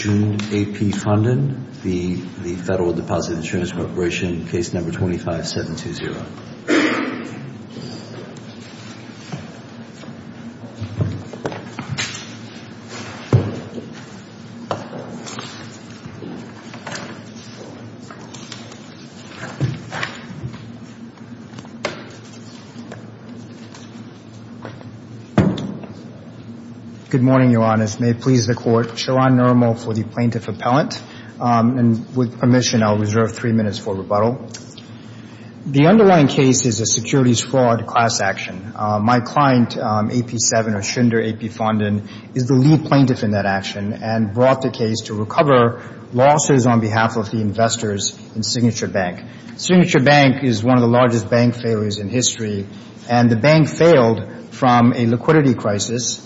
June AP Funding, the Federal Deposit Insurance Corporation, case number 25720. Good morning, Your Honors. May it please the Court, Sharon Nirmal for the Plaintiff Appellant. With permission, I'll reserve three minutes for rebuttal. The underlying case is a securities fraud class action. My client, AP7 or Schindler AP Funding, is the lead plaintiff in that action and brought the case to recover losses on behalf of the investors in Signature Bank. Signature Bank is one of the largest bank failures in history, and the bank failed from a liquidity crisis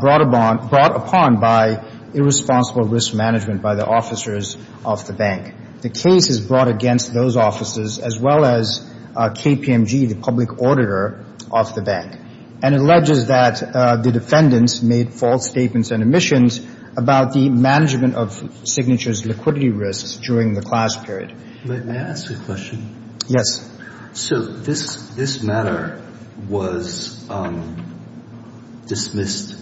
brought upon by irresponsible risk management by the officers of the bank. The case is brought against those officers as well as KPMG, the public auditor of the bank, and alleges that the defendants made false statements and omissions about the management of Signature's liquidity risks during the class period. May I ask a question? Yes. So this matter was dismissed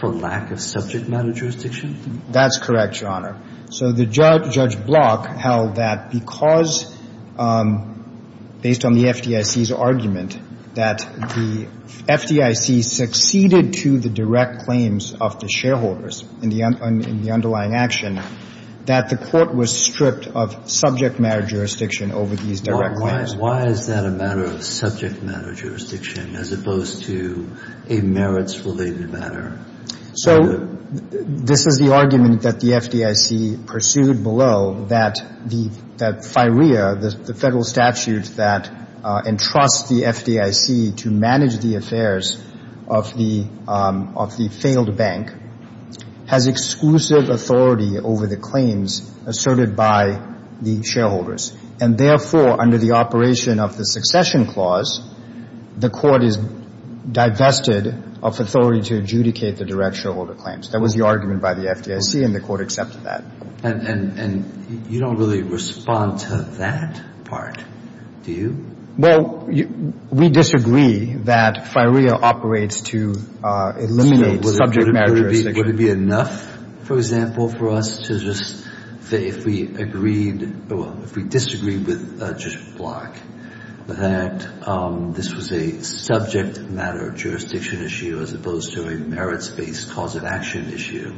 for lack of subject matter jurisdiction? That's correct, Your Honor. So the judge, Judge Block, held that because, based on the FDIC's argument, that the FDIC succeeded to the direct claims of the shareholders in the underlying action, that the Court was stripped of subject matter jurisdiction over these direct claims. Why is that a matter of subject matter jurisdiction as opposed to a merits-related matter? So this is the argument that the FDIC pursued below, that the FIREA, the federal statute that entrusts the FDIC to manage the affairs of the failed bank, has exclusive authority over the claims asserted by the shareholders, and therefore, under the operation of the succession clause, the Court is divested of authority to adjudicate the direct shareholder claims. That was the argument by the FDIC, and the Court accepted that. And you don't really respond to that part, do you? Well, we disagree that FIREA operates to eliminate subject matter jurisdiction. Would it be enough, for example, for us to just say if we agreed or if we disagreed with Judge Block that this was a subject matter jurisdiction issue as opposed to a merits-based cause of action issue,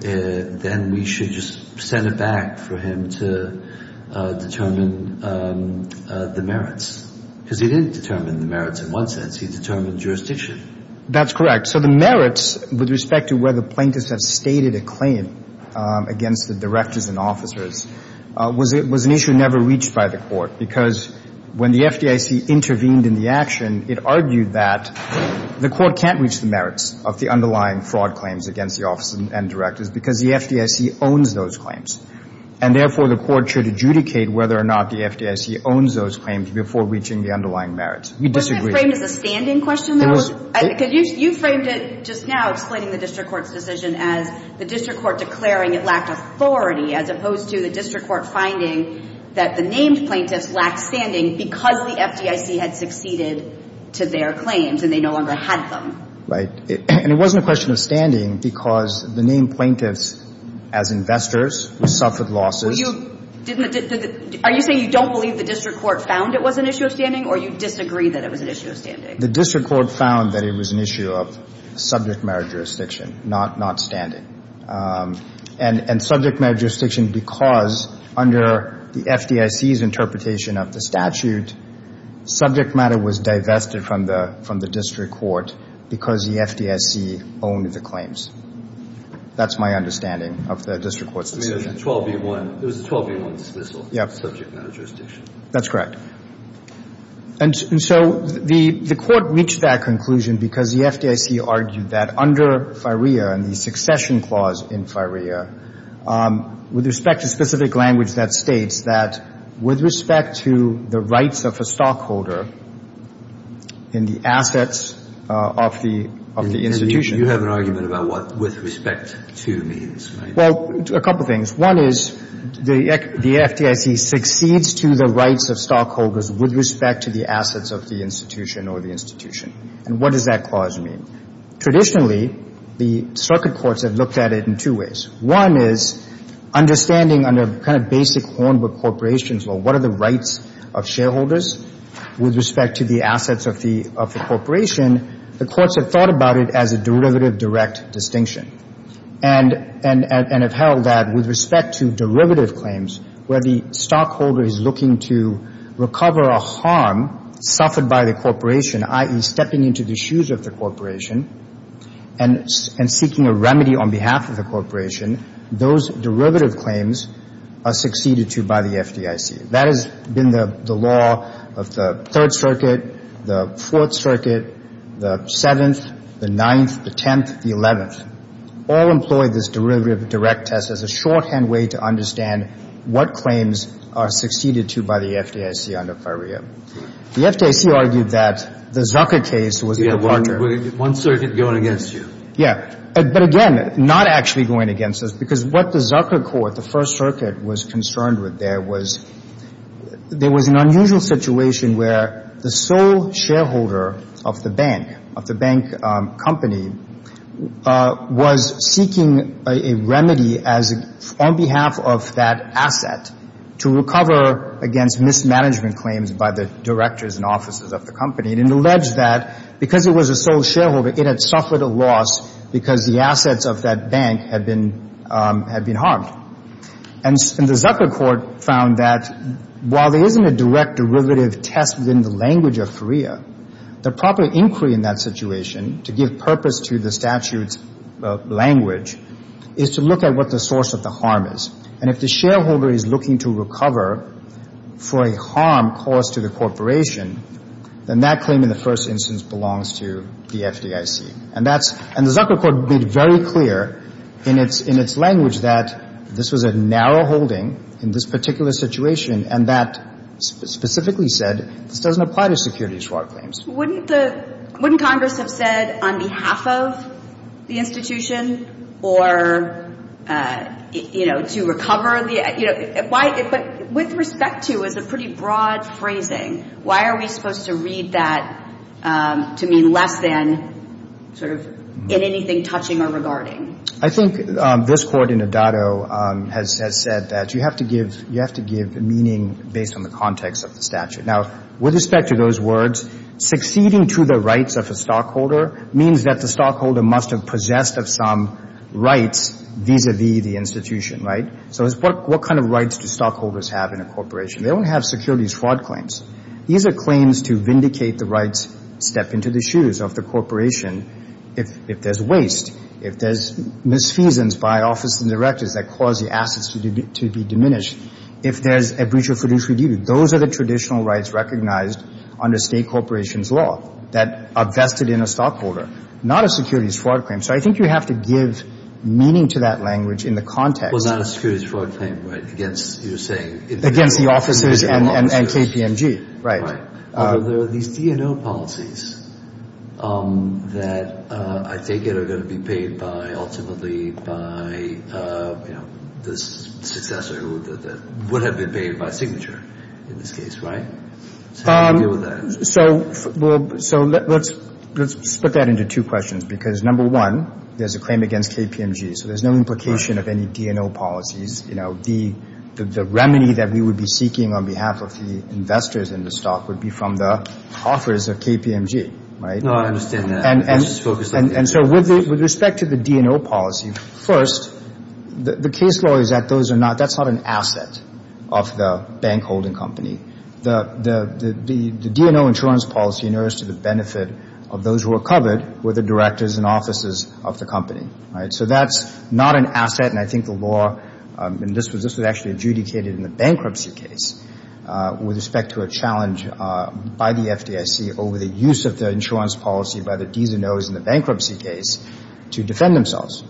then we should just send it back for him to determine the merits? Because he didn't determine the merits in one sense. He determined jurisdiction. That's correct. So the merits with respect to whether plaintiffs have stated a claim against the directors and officers was an issue never reached by the Court because when the FDIC intervened in the action, it argued that the Court can't reach the merits of the underlying fraud claims against the officers and directors because the FDIC owns those claims. And therefore, the Court should adjudicate whether or not the FDIC owns those claims before reaching the underlying merits. We disagree. Was it framed as a standing question, though? It was. You framed it just now, explaining the district court's decision, as the district court declaring it lacked authority as opposed to the district court finding that the named plaintiffs lacked standing because the FDIC had succeeded to their claims and they no longer had them. Right. And it wasn't a question of standing because the named plaintiffs, as investors, suffered losses. Are you saying you don't believe the district court found it was an issue of standing or you disagree that it was an issue of standing? The district court found that it was an issue of subject matter jurisdiction, not standing. And subject matter jurisdiction because under the FDIC's interpretation of the statute, subject matter was divested from the district court because the FDIC owned the claims. That's my understanding of the district court's decision. It was a 12-v-1 dismissal. Yes. Subject matter jurisdiction. That's correct. And so the court reached that conclusion because the FDIC argued that under FIREA and the succession clause in FIREA, with respect to specific language that states that with respect to the rights of a stockholder in the assets of the institution. You have an argument about what with respect to means, right? Well, a couple things. One is the FDIC succeeds to the rights of stockholders with respect to the assets of the institution or the institution. And what does that clause mean? Traditionally, the circuit courts have looked at it in two ways. One is understanding under kind of basic Hornbill corporations, well, what are the rights of shareholders with respect to the assets of the corporation, the courts have thought about it as a derivative-direct distinction and have held that with respect to derivative claims where the stockholder is looking to recover a harm suffered by the corporation, i.e., stepping into the shoes of the corporation and seeking a remedy on behalf of the corporation. Those derivative claims are succeeded to by the FDIC. That has been the law of the Third Circuit, the Fourth Circuit, the Seventh, the Ninth, the Tenth, the Eleventh. All employ this derivative-direct test as a shorthand way to understand what claims are succeeded to by the FDIC under Ferrier. The FDIC argued that the Zucker case was a departure. Yeah, one circuit going against you. Yeah. But again, not actually going against us because what the Zucker court, the First Circuit, was concerned with there was there was an unusual situation where the sole shareholder of the bank, of the bank company, was seeking a remedy as on behalf of that asset to recover against mismanagement claims by the directors and officers of the company and alleged that because it was a sole shareholder, it had suffered a loss because the assets of that bank had been harmed. And the Zucker court found that while there isn't a direct derivative test within the language of Ferrier, the proper inquiry in that situation to give purpose to the statute's language is to look at what the source of the harm is. And if the shareholder is looking to recover for a harm caused to the corporation, then that claim in the first instance belongs to the FDIC. And that's – and the Zucker court made very clear in its language that this was a narrow holding in this particular situation and that specifically said this doesn't apply to securities fraud claims. Wouldn't the – wouldn't Congress have said on behalf of the institution or, you know, to recover the – you know, why – but with respect to is a pretty broad phrasing, why are we supposed to read that to mean less than sort of in anything touching or regarding? I think this court in Adado has said that you have to give – you have to give meaning based on the context of the statute. Now, with respect to those words, succeeding to the rights of a stockholder means that the stockholder must have possessed of some rights vis-à-vis the institution, right? So what kind of rights do stockholders have in a corporation? They don't have securities fraud claims. These are claims to vindicate the rights, step into the shoes of the corporation if there's waste, if there's misfeasance by office and directors that cause the assets to be diminished, if there's a breach of fiduciary duty. Those are the traditional rights recognized under state corporation's law that are vested in a stockholder, not a securities fraud claim. So I think you have to give meaning to that language in the context – Well, not a securities fraud claim, right, against – you're saying – Against the officers and KPMG, right. There are these D&O policies that I take it are going to be paid by ultimately by, you know, the successor that would have been paid by signature in this case, right? So how do you deal with that? So let's split that into two questions because, number one, there's a claim against KPMG, so there's no implication of any D&O policies. The remedy that we would be seeking on behalf of the investors in the stock would be from the offers of KPMG, right? No, I understand that. And so with respect to the D&O policy, first, the case law is that those are not – that's not an asset of the bank holding company. The D&O insurance policy in earnest to the benefit of those who are covered were the directors and offices of the company, right? So that's not an asset, and I think the law – and this was actually adjudicated in the bankruptcy case with respect to a challenge by the FDIC over the use of the insurance policy by the D&Os in the bankruptcy case to defend themselves.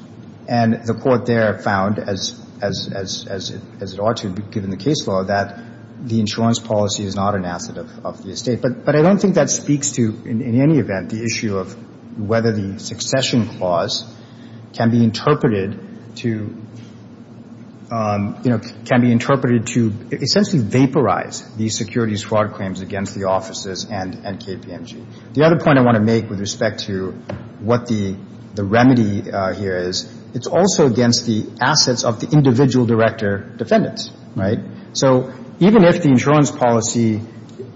And the court there found, as it ought to be given the case law, that the insurance policy is not an asset of the estate. But I don't think that speaks to, in any event, the issue of whether the succession clause can be interpreted to – can be interpreted to essentially vaporize the securities fraud claims against the offices and KPMG. The other point I want to make with respect to what the remedy here is, it's also against the assets of the individual director defendants, right? So even if the insurance policy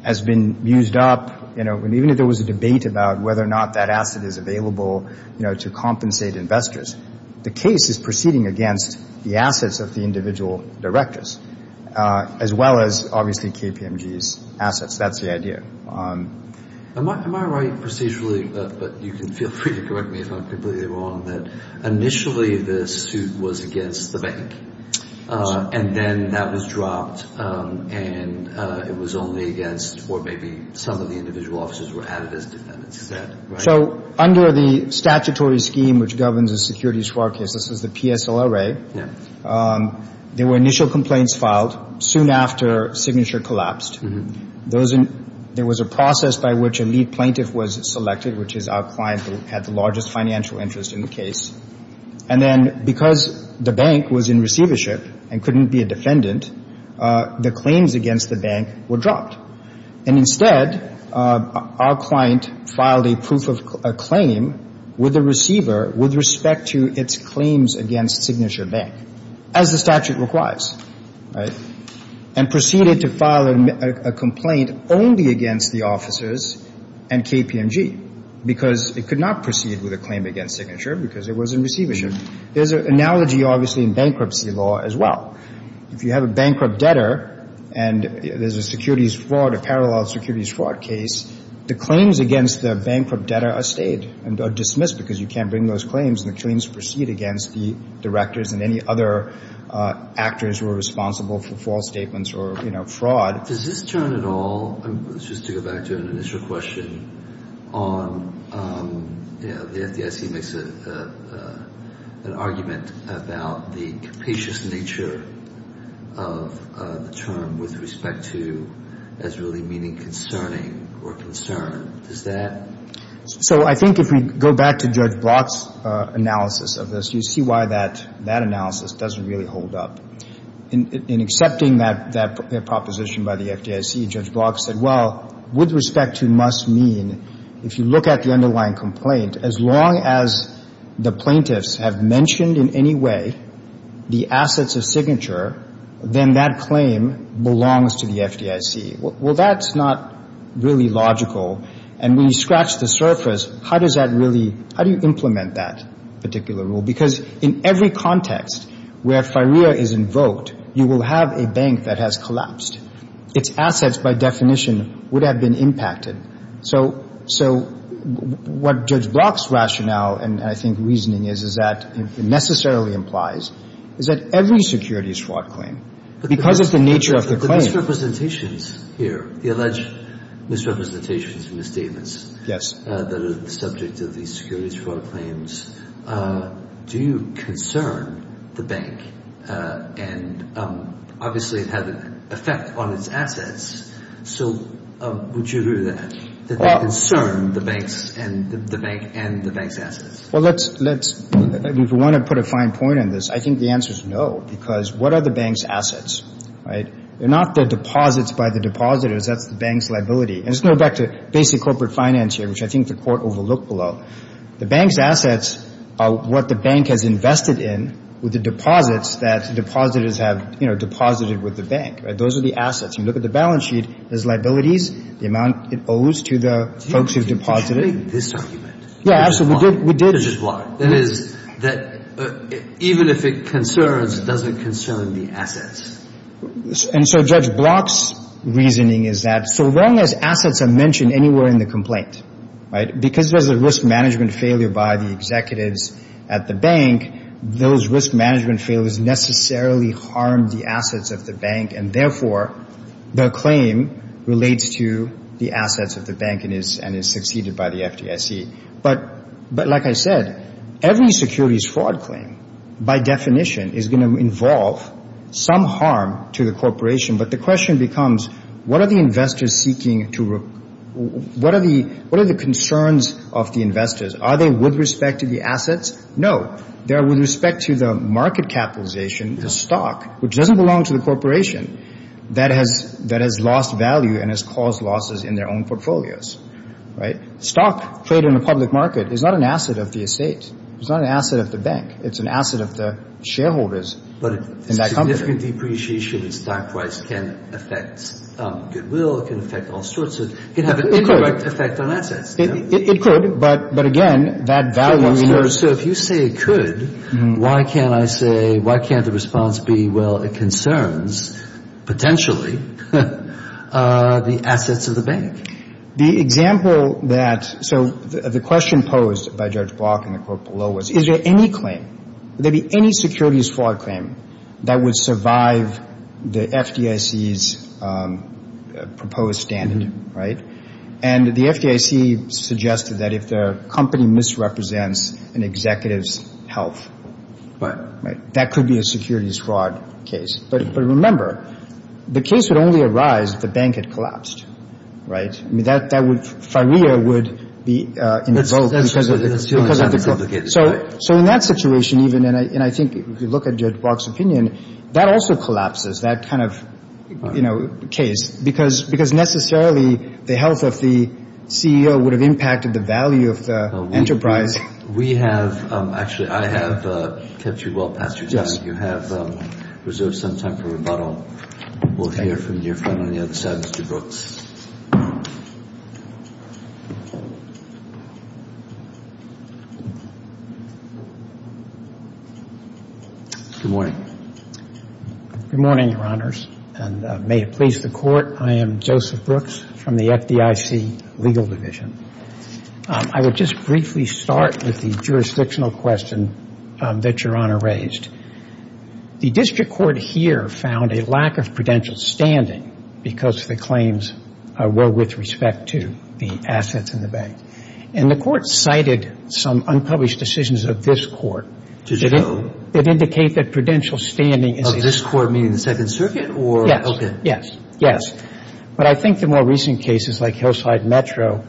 has been used up, you know, and even if there was a debate about whether or not that asset is available, you know, to compensate investors, the case is proceeding against the assets of the individual directors as well as, obviously, KPMG's assets. That's the idea. Am I right procedurally, but you can feel free to correct me if I'm completely wrong, that initially the suit was against the bank and then that was dropped and it was only against or maybe some of the individual officers were added as defendants instead, right? So under the statutory scheme which governs the securities fraud case, this is the PSLRA, there were initial complaints filed soon after Signature collapsed. There was a process by which a lead plaintiff was selected, which is our client who had the largest financial interest in the case, and then because the bank was in receivership and couldn't be a defendant, the claims against the bank were dropped. And instead, our client filed a proof of claim with a receiver with respect to its claims against Signature Bank, as the statute requires, right, and proceeded to file a complaint only against the officers and KPMG because it could not proceed with a claim against Signature because it was in receivership. There's an analogy, obviously, in bankruptcy law as well. If you have a bankrupt debtor and there's a securities fraud, a parallel securities fraud case, the claims against the bankrupt debtor are stayed and are dismissed because you can't bring those claims and the claims proceed against the directors and any other actors who are responsible for false statements or fraud. Does this turn at all, just to go back to an initial question, on the FDIC makes an argument about the capacious nature of the term with respect to as really meaning concerning or concern. Does that? So I think if we go back to Judge Block's analysis of this, you see why that analysis doesn't really hold up. In accepting that proposition by the FDIC, Judge Block said, well, with respect to must mean, if you look at the underlying complaint, as long as the plaintiffs have mentioned in any way the assets of Signature, then that claim belongs to the FDIC. Well, that's not really logical. And when you scratch the surface, how does that really, how do you implement that particular rule? Because in every context where FIREA is invoked, you will have a bank that has collapsed. Its assets, by definition, would have been impacted. So what Judge Block's rationale and I think reasoning is, is that it necessarily implies is that every securities fraud claim, because of the nature of the claim. There are misrepresentations here, the alleged misrepresentations and misstatements. That are the subject of these securities fraud claims. Do you concern the bank? And obviously it had an effect on its assets. So would you agree to that, that they concern the bank and the bank's assets? Well, let's, if you want to put a fine point on this, I think the answer is no. Because what are the bank's assets? Right? They're not the deposits by the depositors. That's the bank's liability. And let's go back to basic corporate finance here, which I think the Court overlooked below. The bank's assets are what the bank has invested in with the deposits that the depositors have, you know, deposited with the bank. Right? Those are the assets. You look at the balance sheet, there's liabilities, the amount it owes to the folks who've deposited. Did you mention this argument? Yeah, absolutely. We did. Which is what? That is that even if it concerns, does it concern the assets? And so Judge Block's reasoning is that so long as assets are mentioned anywhere in the complaint, right, because there's a risk management failure by the executives at the bank, those risk management failures necessarily harm the assets of the bank, and therefore the claim relates to the assets of the bank and is succeeded by the FDIC. But like I said, every securities fraud claim, by definition, is going to involve some harm to the corporation. But the question becomes, what are the investors seeking to, what are the concerns of the investors? Are they with respect to the assets? No. They're with respect to the market capitalization, the stock, which doesn't belong to the corporation, that has lost value and has caused losses in their own portfolios. Right? So stock trade in a public market is not an asset of the estate. It's not an asset of the bank. It's an asset of the shareholders in that company. But a significant depreciation in stock price can affect goodwill. It can affect all sorts of, it could have an indirect effect on assets. It could, but again, that value. So if you say it could, why can't I say, why can't the response be, well, it concerns potentially the assets of the bank? The example that, so the question posed by Judge Block in the court below was, is there any claim, would there be any securities fraud claim that would survive the FDIC's proposed standard? Right? And the FDIC suggested that if the company misrepresents an executive's health. Right. Right. That could be a securities fraud case. But remember, the case would only arise if the bank had collapsed. Right? I mean, that would, firea would be invoked because of the. So in that situation even, and I think if you look at Judge Block's opinion, that also collapses, that kind of, you know, case. Because necessarily the health of the CEO would have impacted the value of the enterprise. We have, actually I have kept you well past your time. You have reserved some time for rebuttal. We'll hear from your friend on the other side, Mr. Brooks. Good morning. Good morning, Your Honors. And may it please the Court, I am Joseph Brooks from the FDIC Legal Division. I would just briefly start with the jurisdictional question that Your Honor raised. The District Court here found a lack of prudential standing because the claims were with respect to the assets in the bank. And the Court cited some unpublished decisions of this Court. To show? That indicate that prudential standing is. Of this Court, meaning the Second Circuit, or? Yes. Okay. Yes. Yes. But I think the more recent cases like Hillside Metro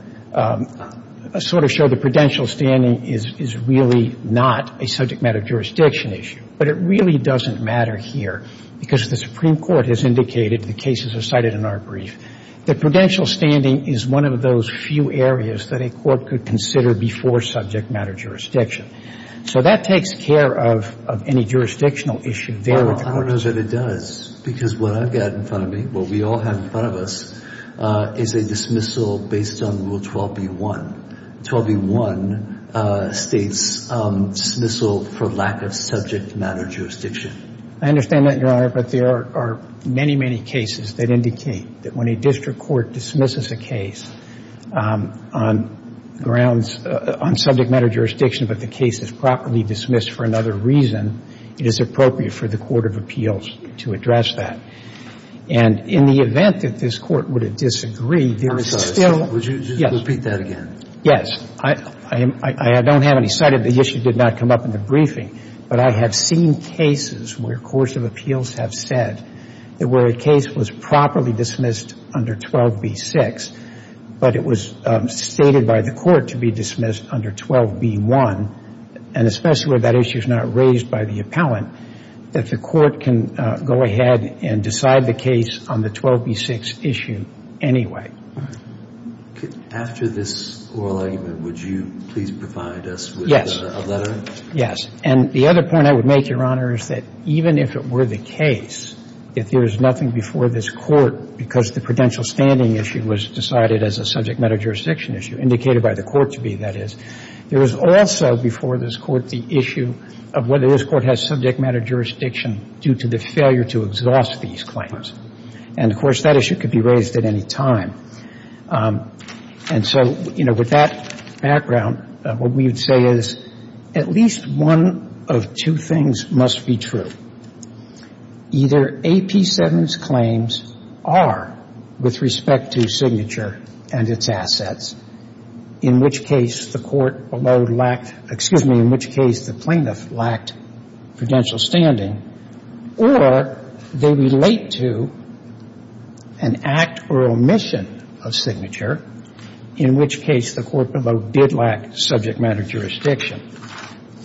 sort of show the prudential standing is really not a subject matter jurisdiction issue. But it really doesn't matter here because the Supreme Court has indicated, the cases are cited in our brief, that prudential standing is one of those few areas that a court could consider before subject matter jurisdiction. So that takes care of any jurisdictional issue there. I don't know that it does. Because what I've got in front of me, what we all have in front of us, is a dismissal based on Rule 12b-1. 12b-1 states dismissal for lack of subject matter jurisdiction. I understand that, Your Honor. But there are many, many cases that indicate that when a district court dismisses a case on grounds, on subject matter jurisdiction but the case is properly dismissed for another reason, it is appropriate for the court of appeals to address that. And in the event that this Court would disagree, there is still – Would you just repeat that again? Yes. I don't have any cited. The issue did not come up in the briefing. But I have seen cases where courts of appeals have said that where a case was properly dismissed under 12b-6, but it was stated by the court to be dismissed under 12b-1, and especially where that issue is not raised by the appellant, that the court can go ahead and decide the case on the 12b-6 issue anyway. After this oral argument, would you please provide us with a letter? And the other point I would make, Your Honor, is that even if it were the case, if there is nothing before this Court, because the prudential standing issue was decided as a subject matter jurisdiction issue, indicated by the court to be, that is, there is also before this Court the issue of whether this Court has subject matter jurisdiction due to the failure to exhaust these claims. And, of course, that issue could be raised at any time. And so, you know, with that background, what we would say is at least one of two things must be true. Either AP7's claims are with respect to signature and its assets, in which case the court below lacked, excuse me, in which case the plaintiff lacked prudential standing, or they relate to an act or omission of signature, in which case the court below did lack subject matter jurisdiction.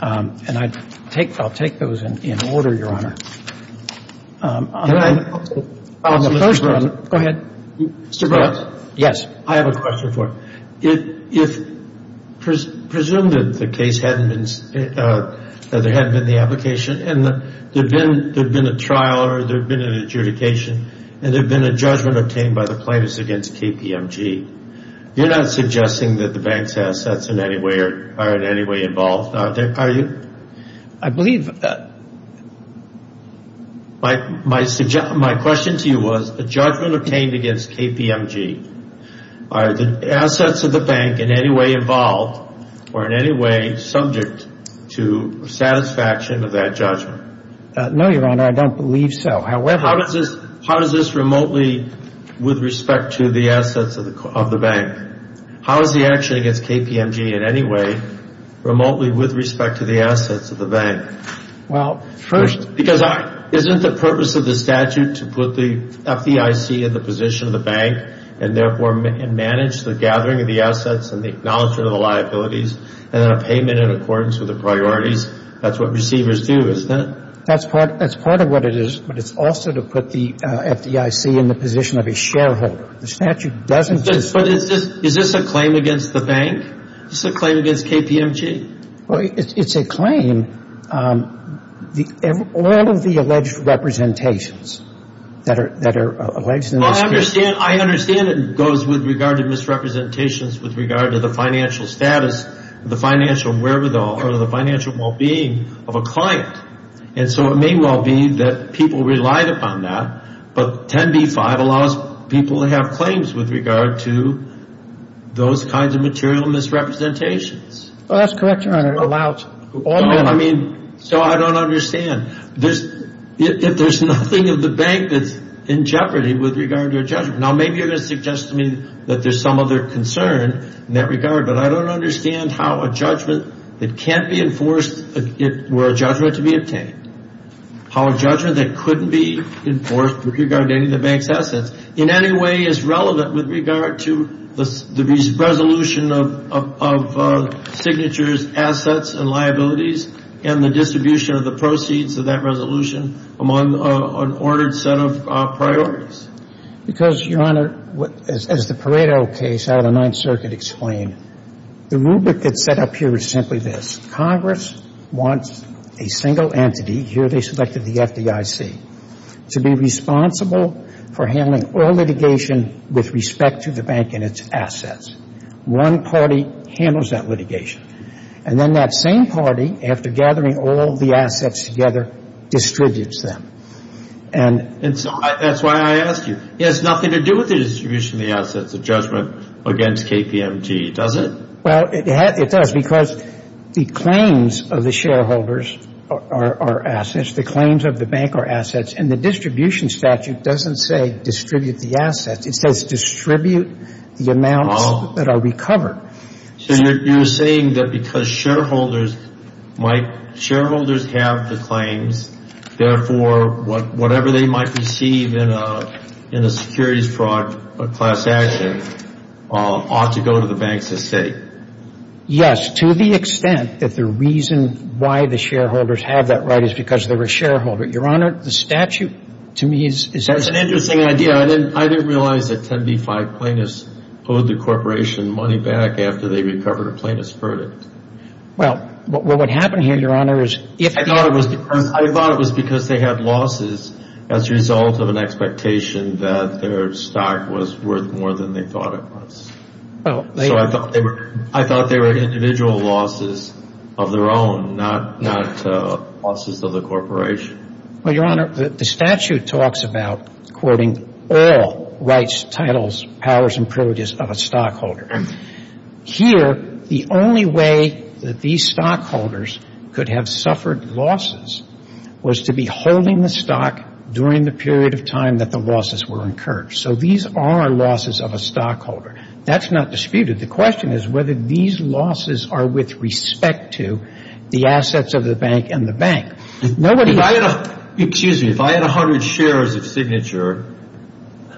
And I'll take those in order, Your Honor. Go ahead. Mr. Brooks? Yes. I have a question for you. If, presumed that the case hadn't been, that there hadn't been the application, and there had been a trial or there had been an adjudication, and there had been a judgment obtained by the plaintiffs against KPMG, you're not suggesting that the bank's assets in any way are in any way involved, are you? I believe that. My question to you was, a judgment obtained against KPMG, are the assets of the bank in any way involved or in any way subject to satisfaction of that judgment? No, Your Honor, I don't believe so. However... How does this remotely with respect to the assets of the bank? How is the action against KPMG in any way remotely with respect to the assets of the bank? Well, first... Because isn't the purpose of the statute to put the FDIC in the position of the bank and therefore manage the gathering of the assets and the acknowledgement of the liabilities and then a payment in accordance with the priorities? That's what receivers do, isn't it? That's part of what it is. But it's also to put the FDIC in the position of a shareholder. The statute doesn't just... But is this a claim against the bank? Is this a claim against KPMG? Well, it's a claim... All of the alleged representations that are alleged in this case... Well, I understand it goes with regard to misrepresentations with regard to the financial status, the financial wherewithal, or the financial well-being of a client. And so it may well be that people relied upon that, but 10b-5 allows people to have claims with regard to those kinds of material misrepresentations. Well, that's correct, Your Honor. It allows... No, I mean... So I don't understand. If there's nothing of the bank that's in jeopardy with regard to a judgment... Now, maybe you're going to suggest to me that there's some other concern in that regard, but I don't understand how a judgment that can't be enforced were a judgment to be obtained. How a judgment that couldn't be enforced with regard to any of the bank's assets in any way is relevant with regard to the resolution of signatures, assets, and liabilities, and the distribution of the proceeds of that resolution among an ordered set of priorities. Because, Your Honor, as the Pareto case out of the Ninth Circuit explained, the rubric that's set up here is simply this. Congress wants a single entity, here they selected the FDIC, to be responsible for handling all litigation with respect to the bank and its assets. One party handles that litigation. And then that same party, after gathering all the assets together, distributes them. And so that's why I asked you. It has nothing to do with the distribution of the assets, the judgment against KPMG, does it? Well, it does, because the claims of the shareholders are assets. The claims of the bank are assets. And the distribution statute doesn't say distribute the assets. It says distribute the amounts that are recovered. So you're saying that because shareholders have the claims, therefore whatever they might receive in a securities fraud class action ought to go to the bank's estate. Yes, to the extent that the reason why the shareholders have that right is because they're a shareholder. Your Honor, the statute, to me, is essential. That's an interesting idea. I didn't realize that 10b-5 plaintiffs owed the corporation money back after they recovered a plaintiff's verdict. Well, what would happen here, Your Honor, is if the- I thought it was because they had losses as a result of an expectation that their stock was worth more than they thought it was. So I thought they were individual losses of their own, not losses of the corporation. Well, Your Honor, the statute talks about quoting all rights, titles, powers, and privileges of a stockholder. Here, the only way that these stockholders could have suffered losses was to be holding the stock during the period of time that the losses were incurred. So these are losses of a stockholder. That's not disputed. The question is whether these losses are with respect to the assets of the bank and the bank. Excuse me. If I had 100 shares of Signature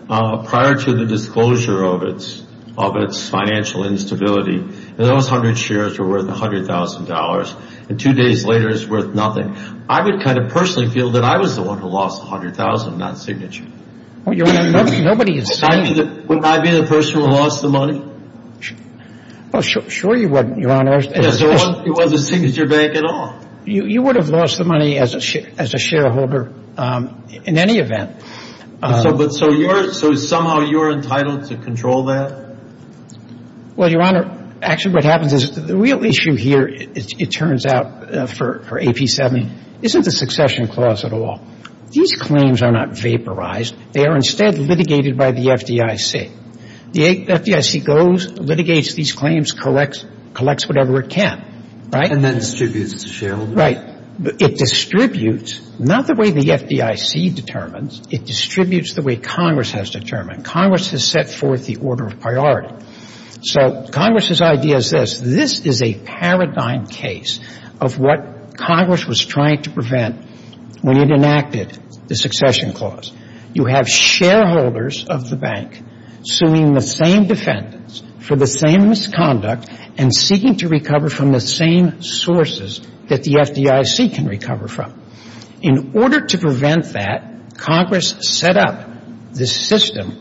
prior to the disclosure of its financial instability, and those 100 shares were worth $100,000, and two days later it's worth nothing, I would kind of personally feel that I was the one who lost 100,000, not Signature. Well, Your Honor, nobody is saying- Wouldn't I be the person who lost the money? Well, sure you wouldn't, Your Honor. It wasn't Signature Bank at all. You would have lost the money as a shareholder in any event. So somehow you're entitled to control that? Well, Your Honor, actually what happens is the real issue here, it turns out, for AP7, isn't the succession clause at all. These claims are not vaporized. They are instead litigated by the FDIC. The FDIC goes, litigates these claims, collects whatever it can, right? And then distributes it to shareholders? Right. It distributes not the way the FDIC determines. It distributes the way Congress has determined. Congress has set forth the order of priority. So Congress's idea is this. This is a paradigm case of what Congress was trying to prevent when it enacted the succession clause. You have shareholders of the bank suing the same defendants for the same misconduct and seeking to recover from the same sources that the FDIC can recover from. In order to prevent that, Congress set up this system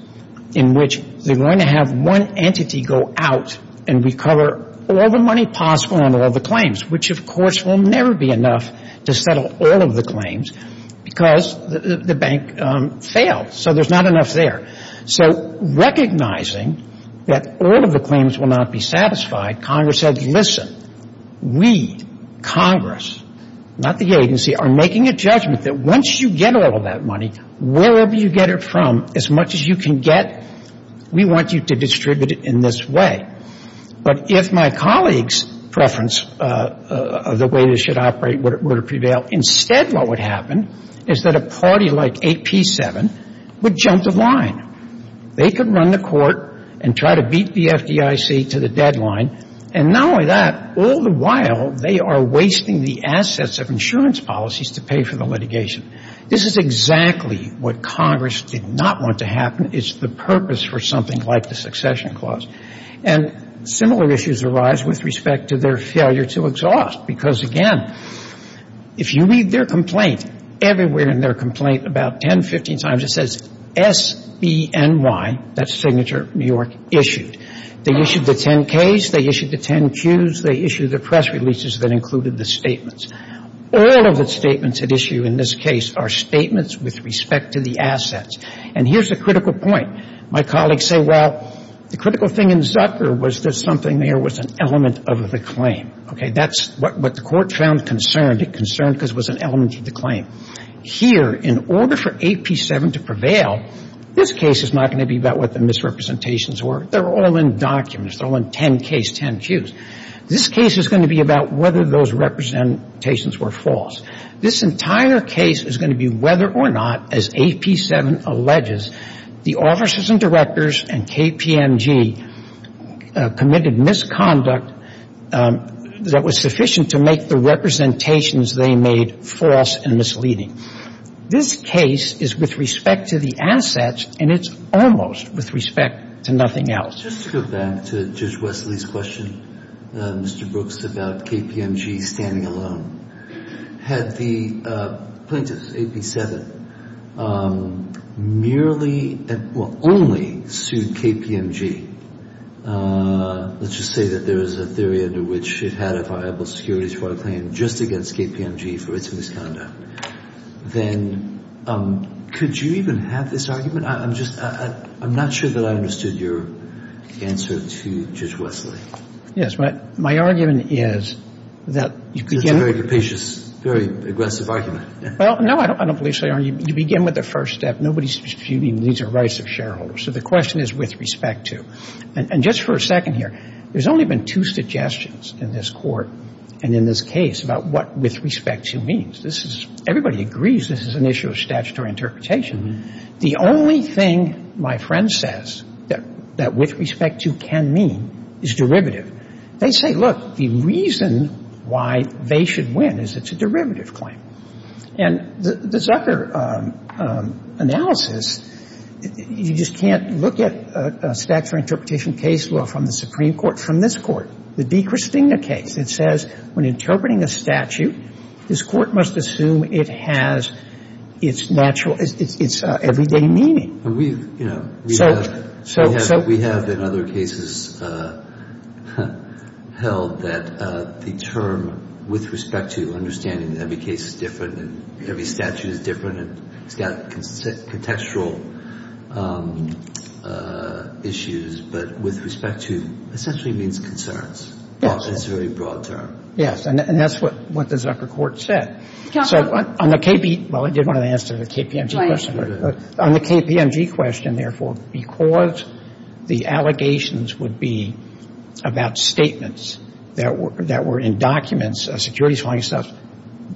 in which they're going to have one entity go out and recover all the money possible on all the claims, which of course will never be enough to settle all of the claims because the bank failed. So there's not enough there. So recognizing that all of the claims will not be satisfied, Congress said, listen, we, Congress, not the agency, are making a judgment that once you get all of that money, wherever you get it from, as much as you can get, we want you to distribute it in this way. But if my colleagues' preference of the way this should operate were to prevail, instead what would happen is that a party like AP7 would jump the line. They could run the court and try to beat the FDIC to the deadline. And not only that, all the while they are wasting the assets of insurance policies to pay for the litigation. This is exactly what Congress did not want to happen. It's the purpose for something like the succession clause. And similar issues arise with respect to their failure to exhaust. Because, again, if you read their complaint, everywhere in their complaint about 10, 15 times, it says SBNY, that's Signature New York, issued. They issued the 10-Ks. They issued the 10-Qs. They issued the press releases that included the statements. All of the statements at issue in this case are statements with respect to the assets. And here's a critical point. My colleagues say, well, the critical thing in Zucker was there's something there was an element of the claim. Okay, that's what the court found concerned. It concerned because it was an element of the claim. Here, in order for AP7 to prevail, this case is not going to be about what the misrepresentations were. They're all in documents. They're all in 10-Ks, 10-Qs. This case is going to be about whether those representations were false. This entire case is going to be whether or not, as AP7 alleges, the officers and directors and KPMG committed misconduct that was sufficient to make the representations they made false and misleading. This case is with respect to the assets, and it's almost with respect to nothing else. Just to go back to Judge Wesley's question, Mr. Brooks, about KPMG standing alone. Had the plaintiff, AP7, merely, well, only sued KPMG, let's just say that there is a theory under which it had a viable security trial claim just against KPMG for its misconduct, then could you even have this argument? I'm just – I'm not sure that I understood your answer to Judge Wesley. Yes, but my argument is that you begin with – That's a very capacious, very aggressive argument. Well, no, I don't believe so, Your Honor. You begin with the first step. Nobody's disputing these are rights of shareholders. So the question is with respect to. And just for a second here, there's only been two suggestions in this Court and in this case about what with respect to means. This is – everybody agrees this is an issue of statutory interpretation. The only thing my friend says that with respect to can mean is derivative. They say, look, the reason why they should win is it's a derivative claim. And the Zucker analysis, you just can't look at statutory interpretation case law from the Supreme Court. From this Court, the DiChristina case, it says when interpreting a statute, this Court must assume it has its natural – its everyday meaning. We, you know – So – so – We have in other cases held that the term with respect to understanding every case is different and every statute is different and it's got contextual issues, but with respect to essentially means concerns. Yes. It's a very broad term. Yes. And that's what the Zucker Court said. So on the KB – well, I did want to answer the KPMG question. On the KPMG question, therefore, because the allegations would be about statements that were – that were in documents, securities law and stuff,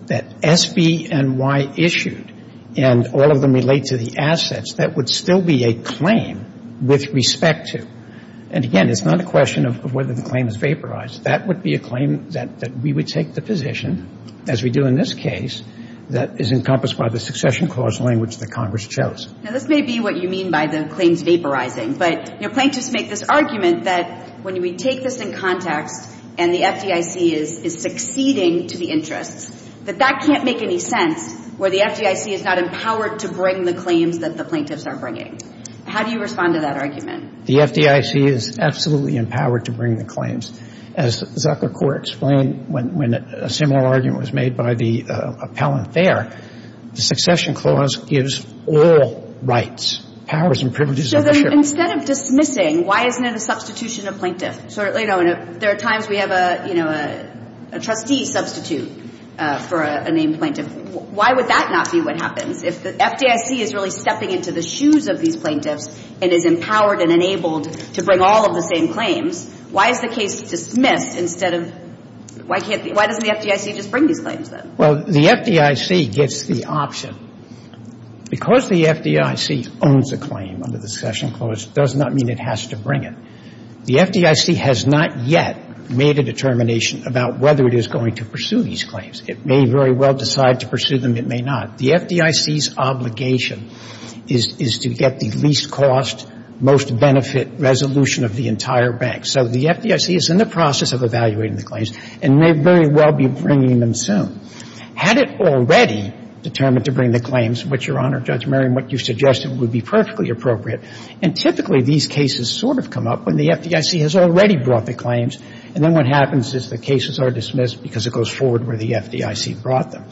that SBNY issued and all of them relate to the assets, that would still be a claim with respect to. And, again, it's not a question of whether the claim is vaporized. That would be a claim that we would take the position, as we do in this case, that is encompassed by the succession clause language that Congress chose. Now, this may be what you mean by the claims vaporizing, but, you know, plaintiffs make this argument that when we take this in context and the FDIC is succeeding to the interests, that that can't make any sense where the FDIC is not empowered to bring the claims that the plaintiffs are bringing. How do you respond to that argument? The FDIC is absolutely empowered to bring the claims. As Zuckerberg explained when a similar argument was made by the appellant there, the succession clause gives all rights, powers, and privileges of the sheriff. So then instead of dismissing, why isn't it a substitution of plaintiff? So, you know, there are times we have a, you know, a trustee substitute for a named plaintiff. Why would that not be what happens if the FDIC is really stepping into the shoes of these plaintiffs and is empowered and enabled to bring all of the same claims? Why is the case dismissed instead of why can't the – why doesn't the FDIC just bring these claims then? Well, the FDIC gets the option. Because the FDIC owns a claim under the succession clause does not mean it has to bring it. The FDIC has not yet made a determination about whether it is going to pursue these claims. It may very well decide to pursue them. It may not. The FDIC's obligation is to get the least cost, most benefit resolution of the entire bank. So the FDIC is in the process of evaluating the claims and may very well be bringing them soon. Had it already determined to bring the claims, which, Your Honor, Judge Merriam, what you suggested would be perfectly appropriate, and typically these cases sort of come up when the FDIC has already brought the claims, and then what happens is the cases are dismissed because it goes forward where the FDIC brought them.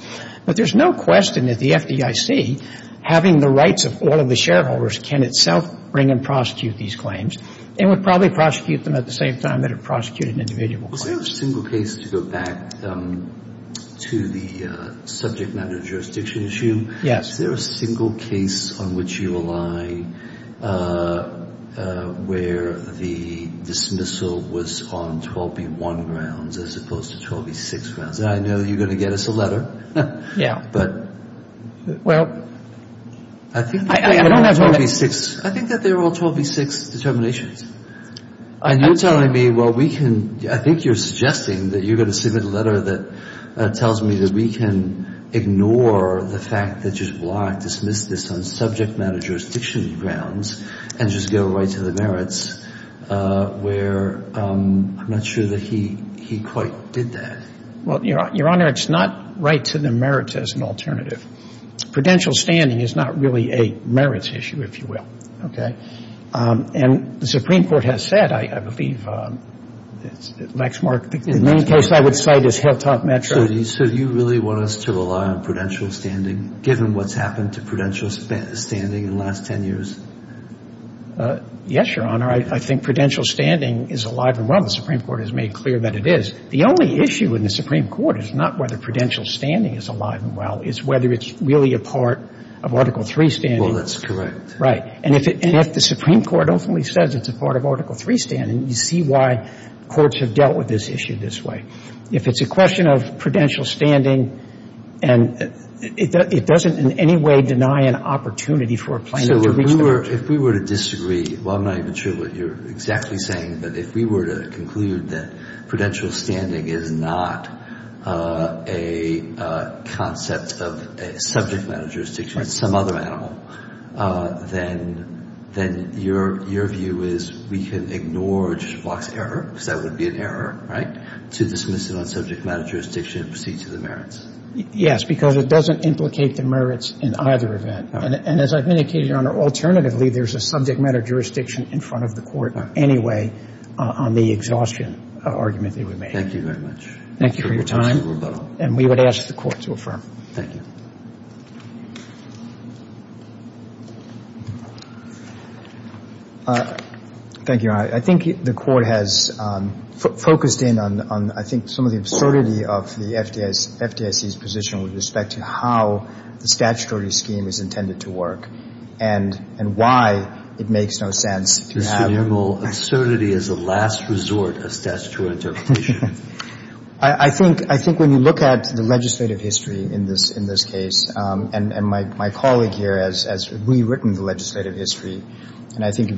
But there's no question that the FDIC, having the rights of all of the shareholders, can itself bring and prosecute these claims. It would probably prosecute them at the same time that it prosecuted individual claims. Is there a single case, to go back to the subject matter jurisdiction issue? Yes. Is there a single case on which you align where the dismissal was on 12B1 grounds as opposed to 12B6 grounds? I know you're going to get us a letter. Yeah. But I think that they were all 12B6 determinations. And you're telling me, well, we can, I think you're suggesting that you're going to submit a letter that tells me that we can ignore the fact that you've blocked, dismissed this on subject matter jurisdiction grounds and just go right to the merits, where I'm not sure that he quite did that. Well, Your Honor, it's not right to the merits as an alternative. Prudential standing is not really a merits issue, if you will. And the Supreme Court has said, I believe, Lexmark, the main case I would cite is Hilltop Metro. So do you really want us to rely on prudential standing, given what's happened to prudential standing in the last 10 years? Yes, Your Honor. I think prudential standing is alive and well. The Supreme Court has made clear that it is. The only issue in the Supreme Court is not whether prudential standing is alive and well. It's whether it's really a part of Article III standing. Well, that's correct. Right. And if the Supreme Court ultimately says it's a part of Article III standing, you see why courts have dealt with this issue this way. If it's a question of prudential standing, and it doesn't in any way deny an opportunity for a plaintiff to reach that. So if we were to disagree, well, I'm not even sure what you're exactly saying, but if we were to conclude that prudential standing is not a concept of a subject matter jurisdiction, some other animal, then your view is we can ignore Judge Block's error, because that would be an error, right, to dismiss it on subject matter jurisdiction and proceed to the merits? Yes, because it doesn't implicate the merits in either event. And as I've indicated, Your Honor, there's a subject matter jurisdiction in front of the Court anyway on the exhaustion argument that we made. Thank you very much. Thank you for your time. And we would ask the Court to affirm. Thank you. Thank you, Your Honor. I think the Court has focused in on I think some of the absurdity of the FDIC's position with respect to how the statutory scheme is intended to work and why it makes no sense to have an absurdity as a last resort of statutory interpretation. I think when you look at the legislative history in this case, and my colleague here has rewritten the legislative history, and I think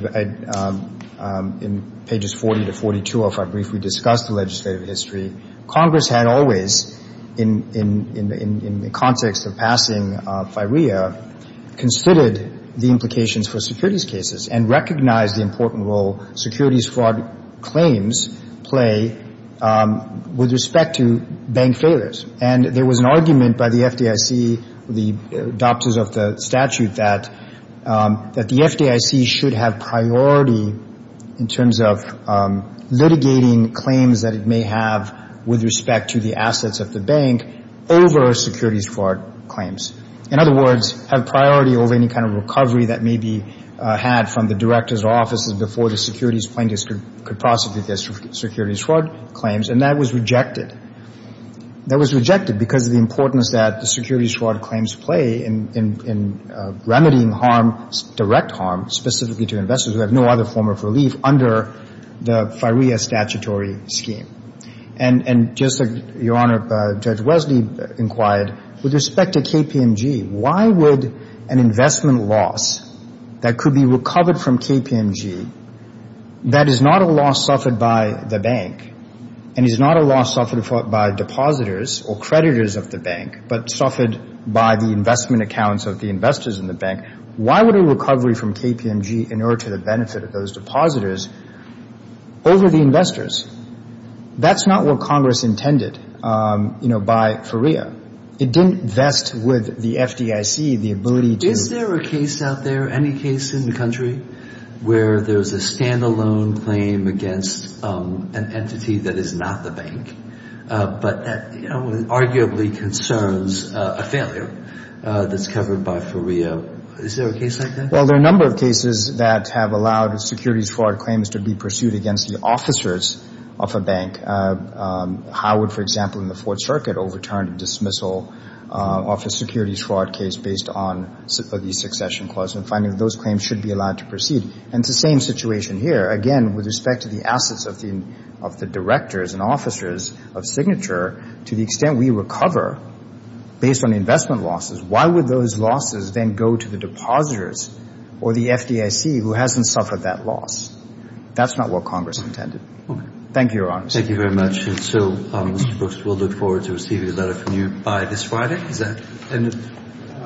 in pages 40 to 42 of our brief we discussed the legislative history. Congress had always, in the context of passing FIREA, considered the implications for securities cases and recognized the important role securities fraud claims play with respect to bank failures. And there was an argument by the FDIC, the adopters of the statute, that the FDIC should have priority in terms of litigating claims that it may have with respect to the assets of the bank over securities fraud claims. In other words, have priority over any kind of recovery that may be had from the directors' offices before the securities plaintiffs could prosecute their securities fraud claims, and that was rejected. That was rejected because of the importance that the securities fraud claims play in remedying harm, specifically to investors who have no other form of relief under the FIREA statutory scheme. And just like Your Honor, Judge Wesley inquired, with respect to KPMG, why would an investment loss that could be recovered from KPMG that is not a loss suffered by the bank and is not a loss suffered by depositors or creditors of the bank, but suffered by the investment accounts of the investors in the bank, why would a recovery from KPMG inert to the benefit of those depositors over the investors? That's not what Congress intended, you know, by FIREA. It didn't vest with the FDIC the ability to — Is there a case out there, any case in the country, where there's a standalone claim against an entity that is not the bank, but that arguably concerns a failure that's covered by FIREA? Is there a case like that? Well, there are a number of cases that have allowed securities fraud claims to be pursued against the officers of a bank. Howard, for example, in the Fourth Circuit, overturned a dismissal of a securities fraud case based on the succession clause, and finding that those claims should be allowed to proceed. And it's the same situation here. Again, with respect to the assets of the directors and officers of Signature, to the extent we recover based on investment losses, why would those losses then go to the depositors or the FDIC who hasn't suffered that loss? That's not what Congress intended. Thank you, Your Honor. Thank you very much. And so, Mr. Brooks, we'll look forward to receiving a letter from you by this Friday. Is that the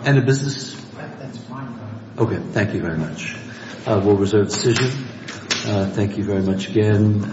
end of business? That's fine, Your Honor. Okay, thank you very much. We'll reserve the decision. Thank you very much again.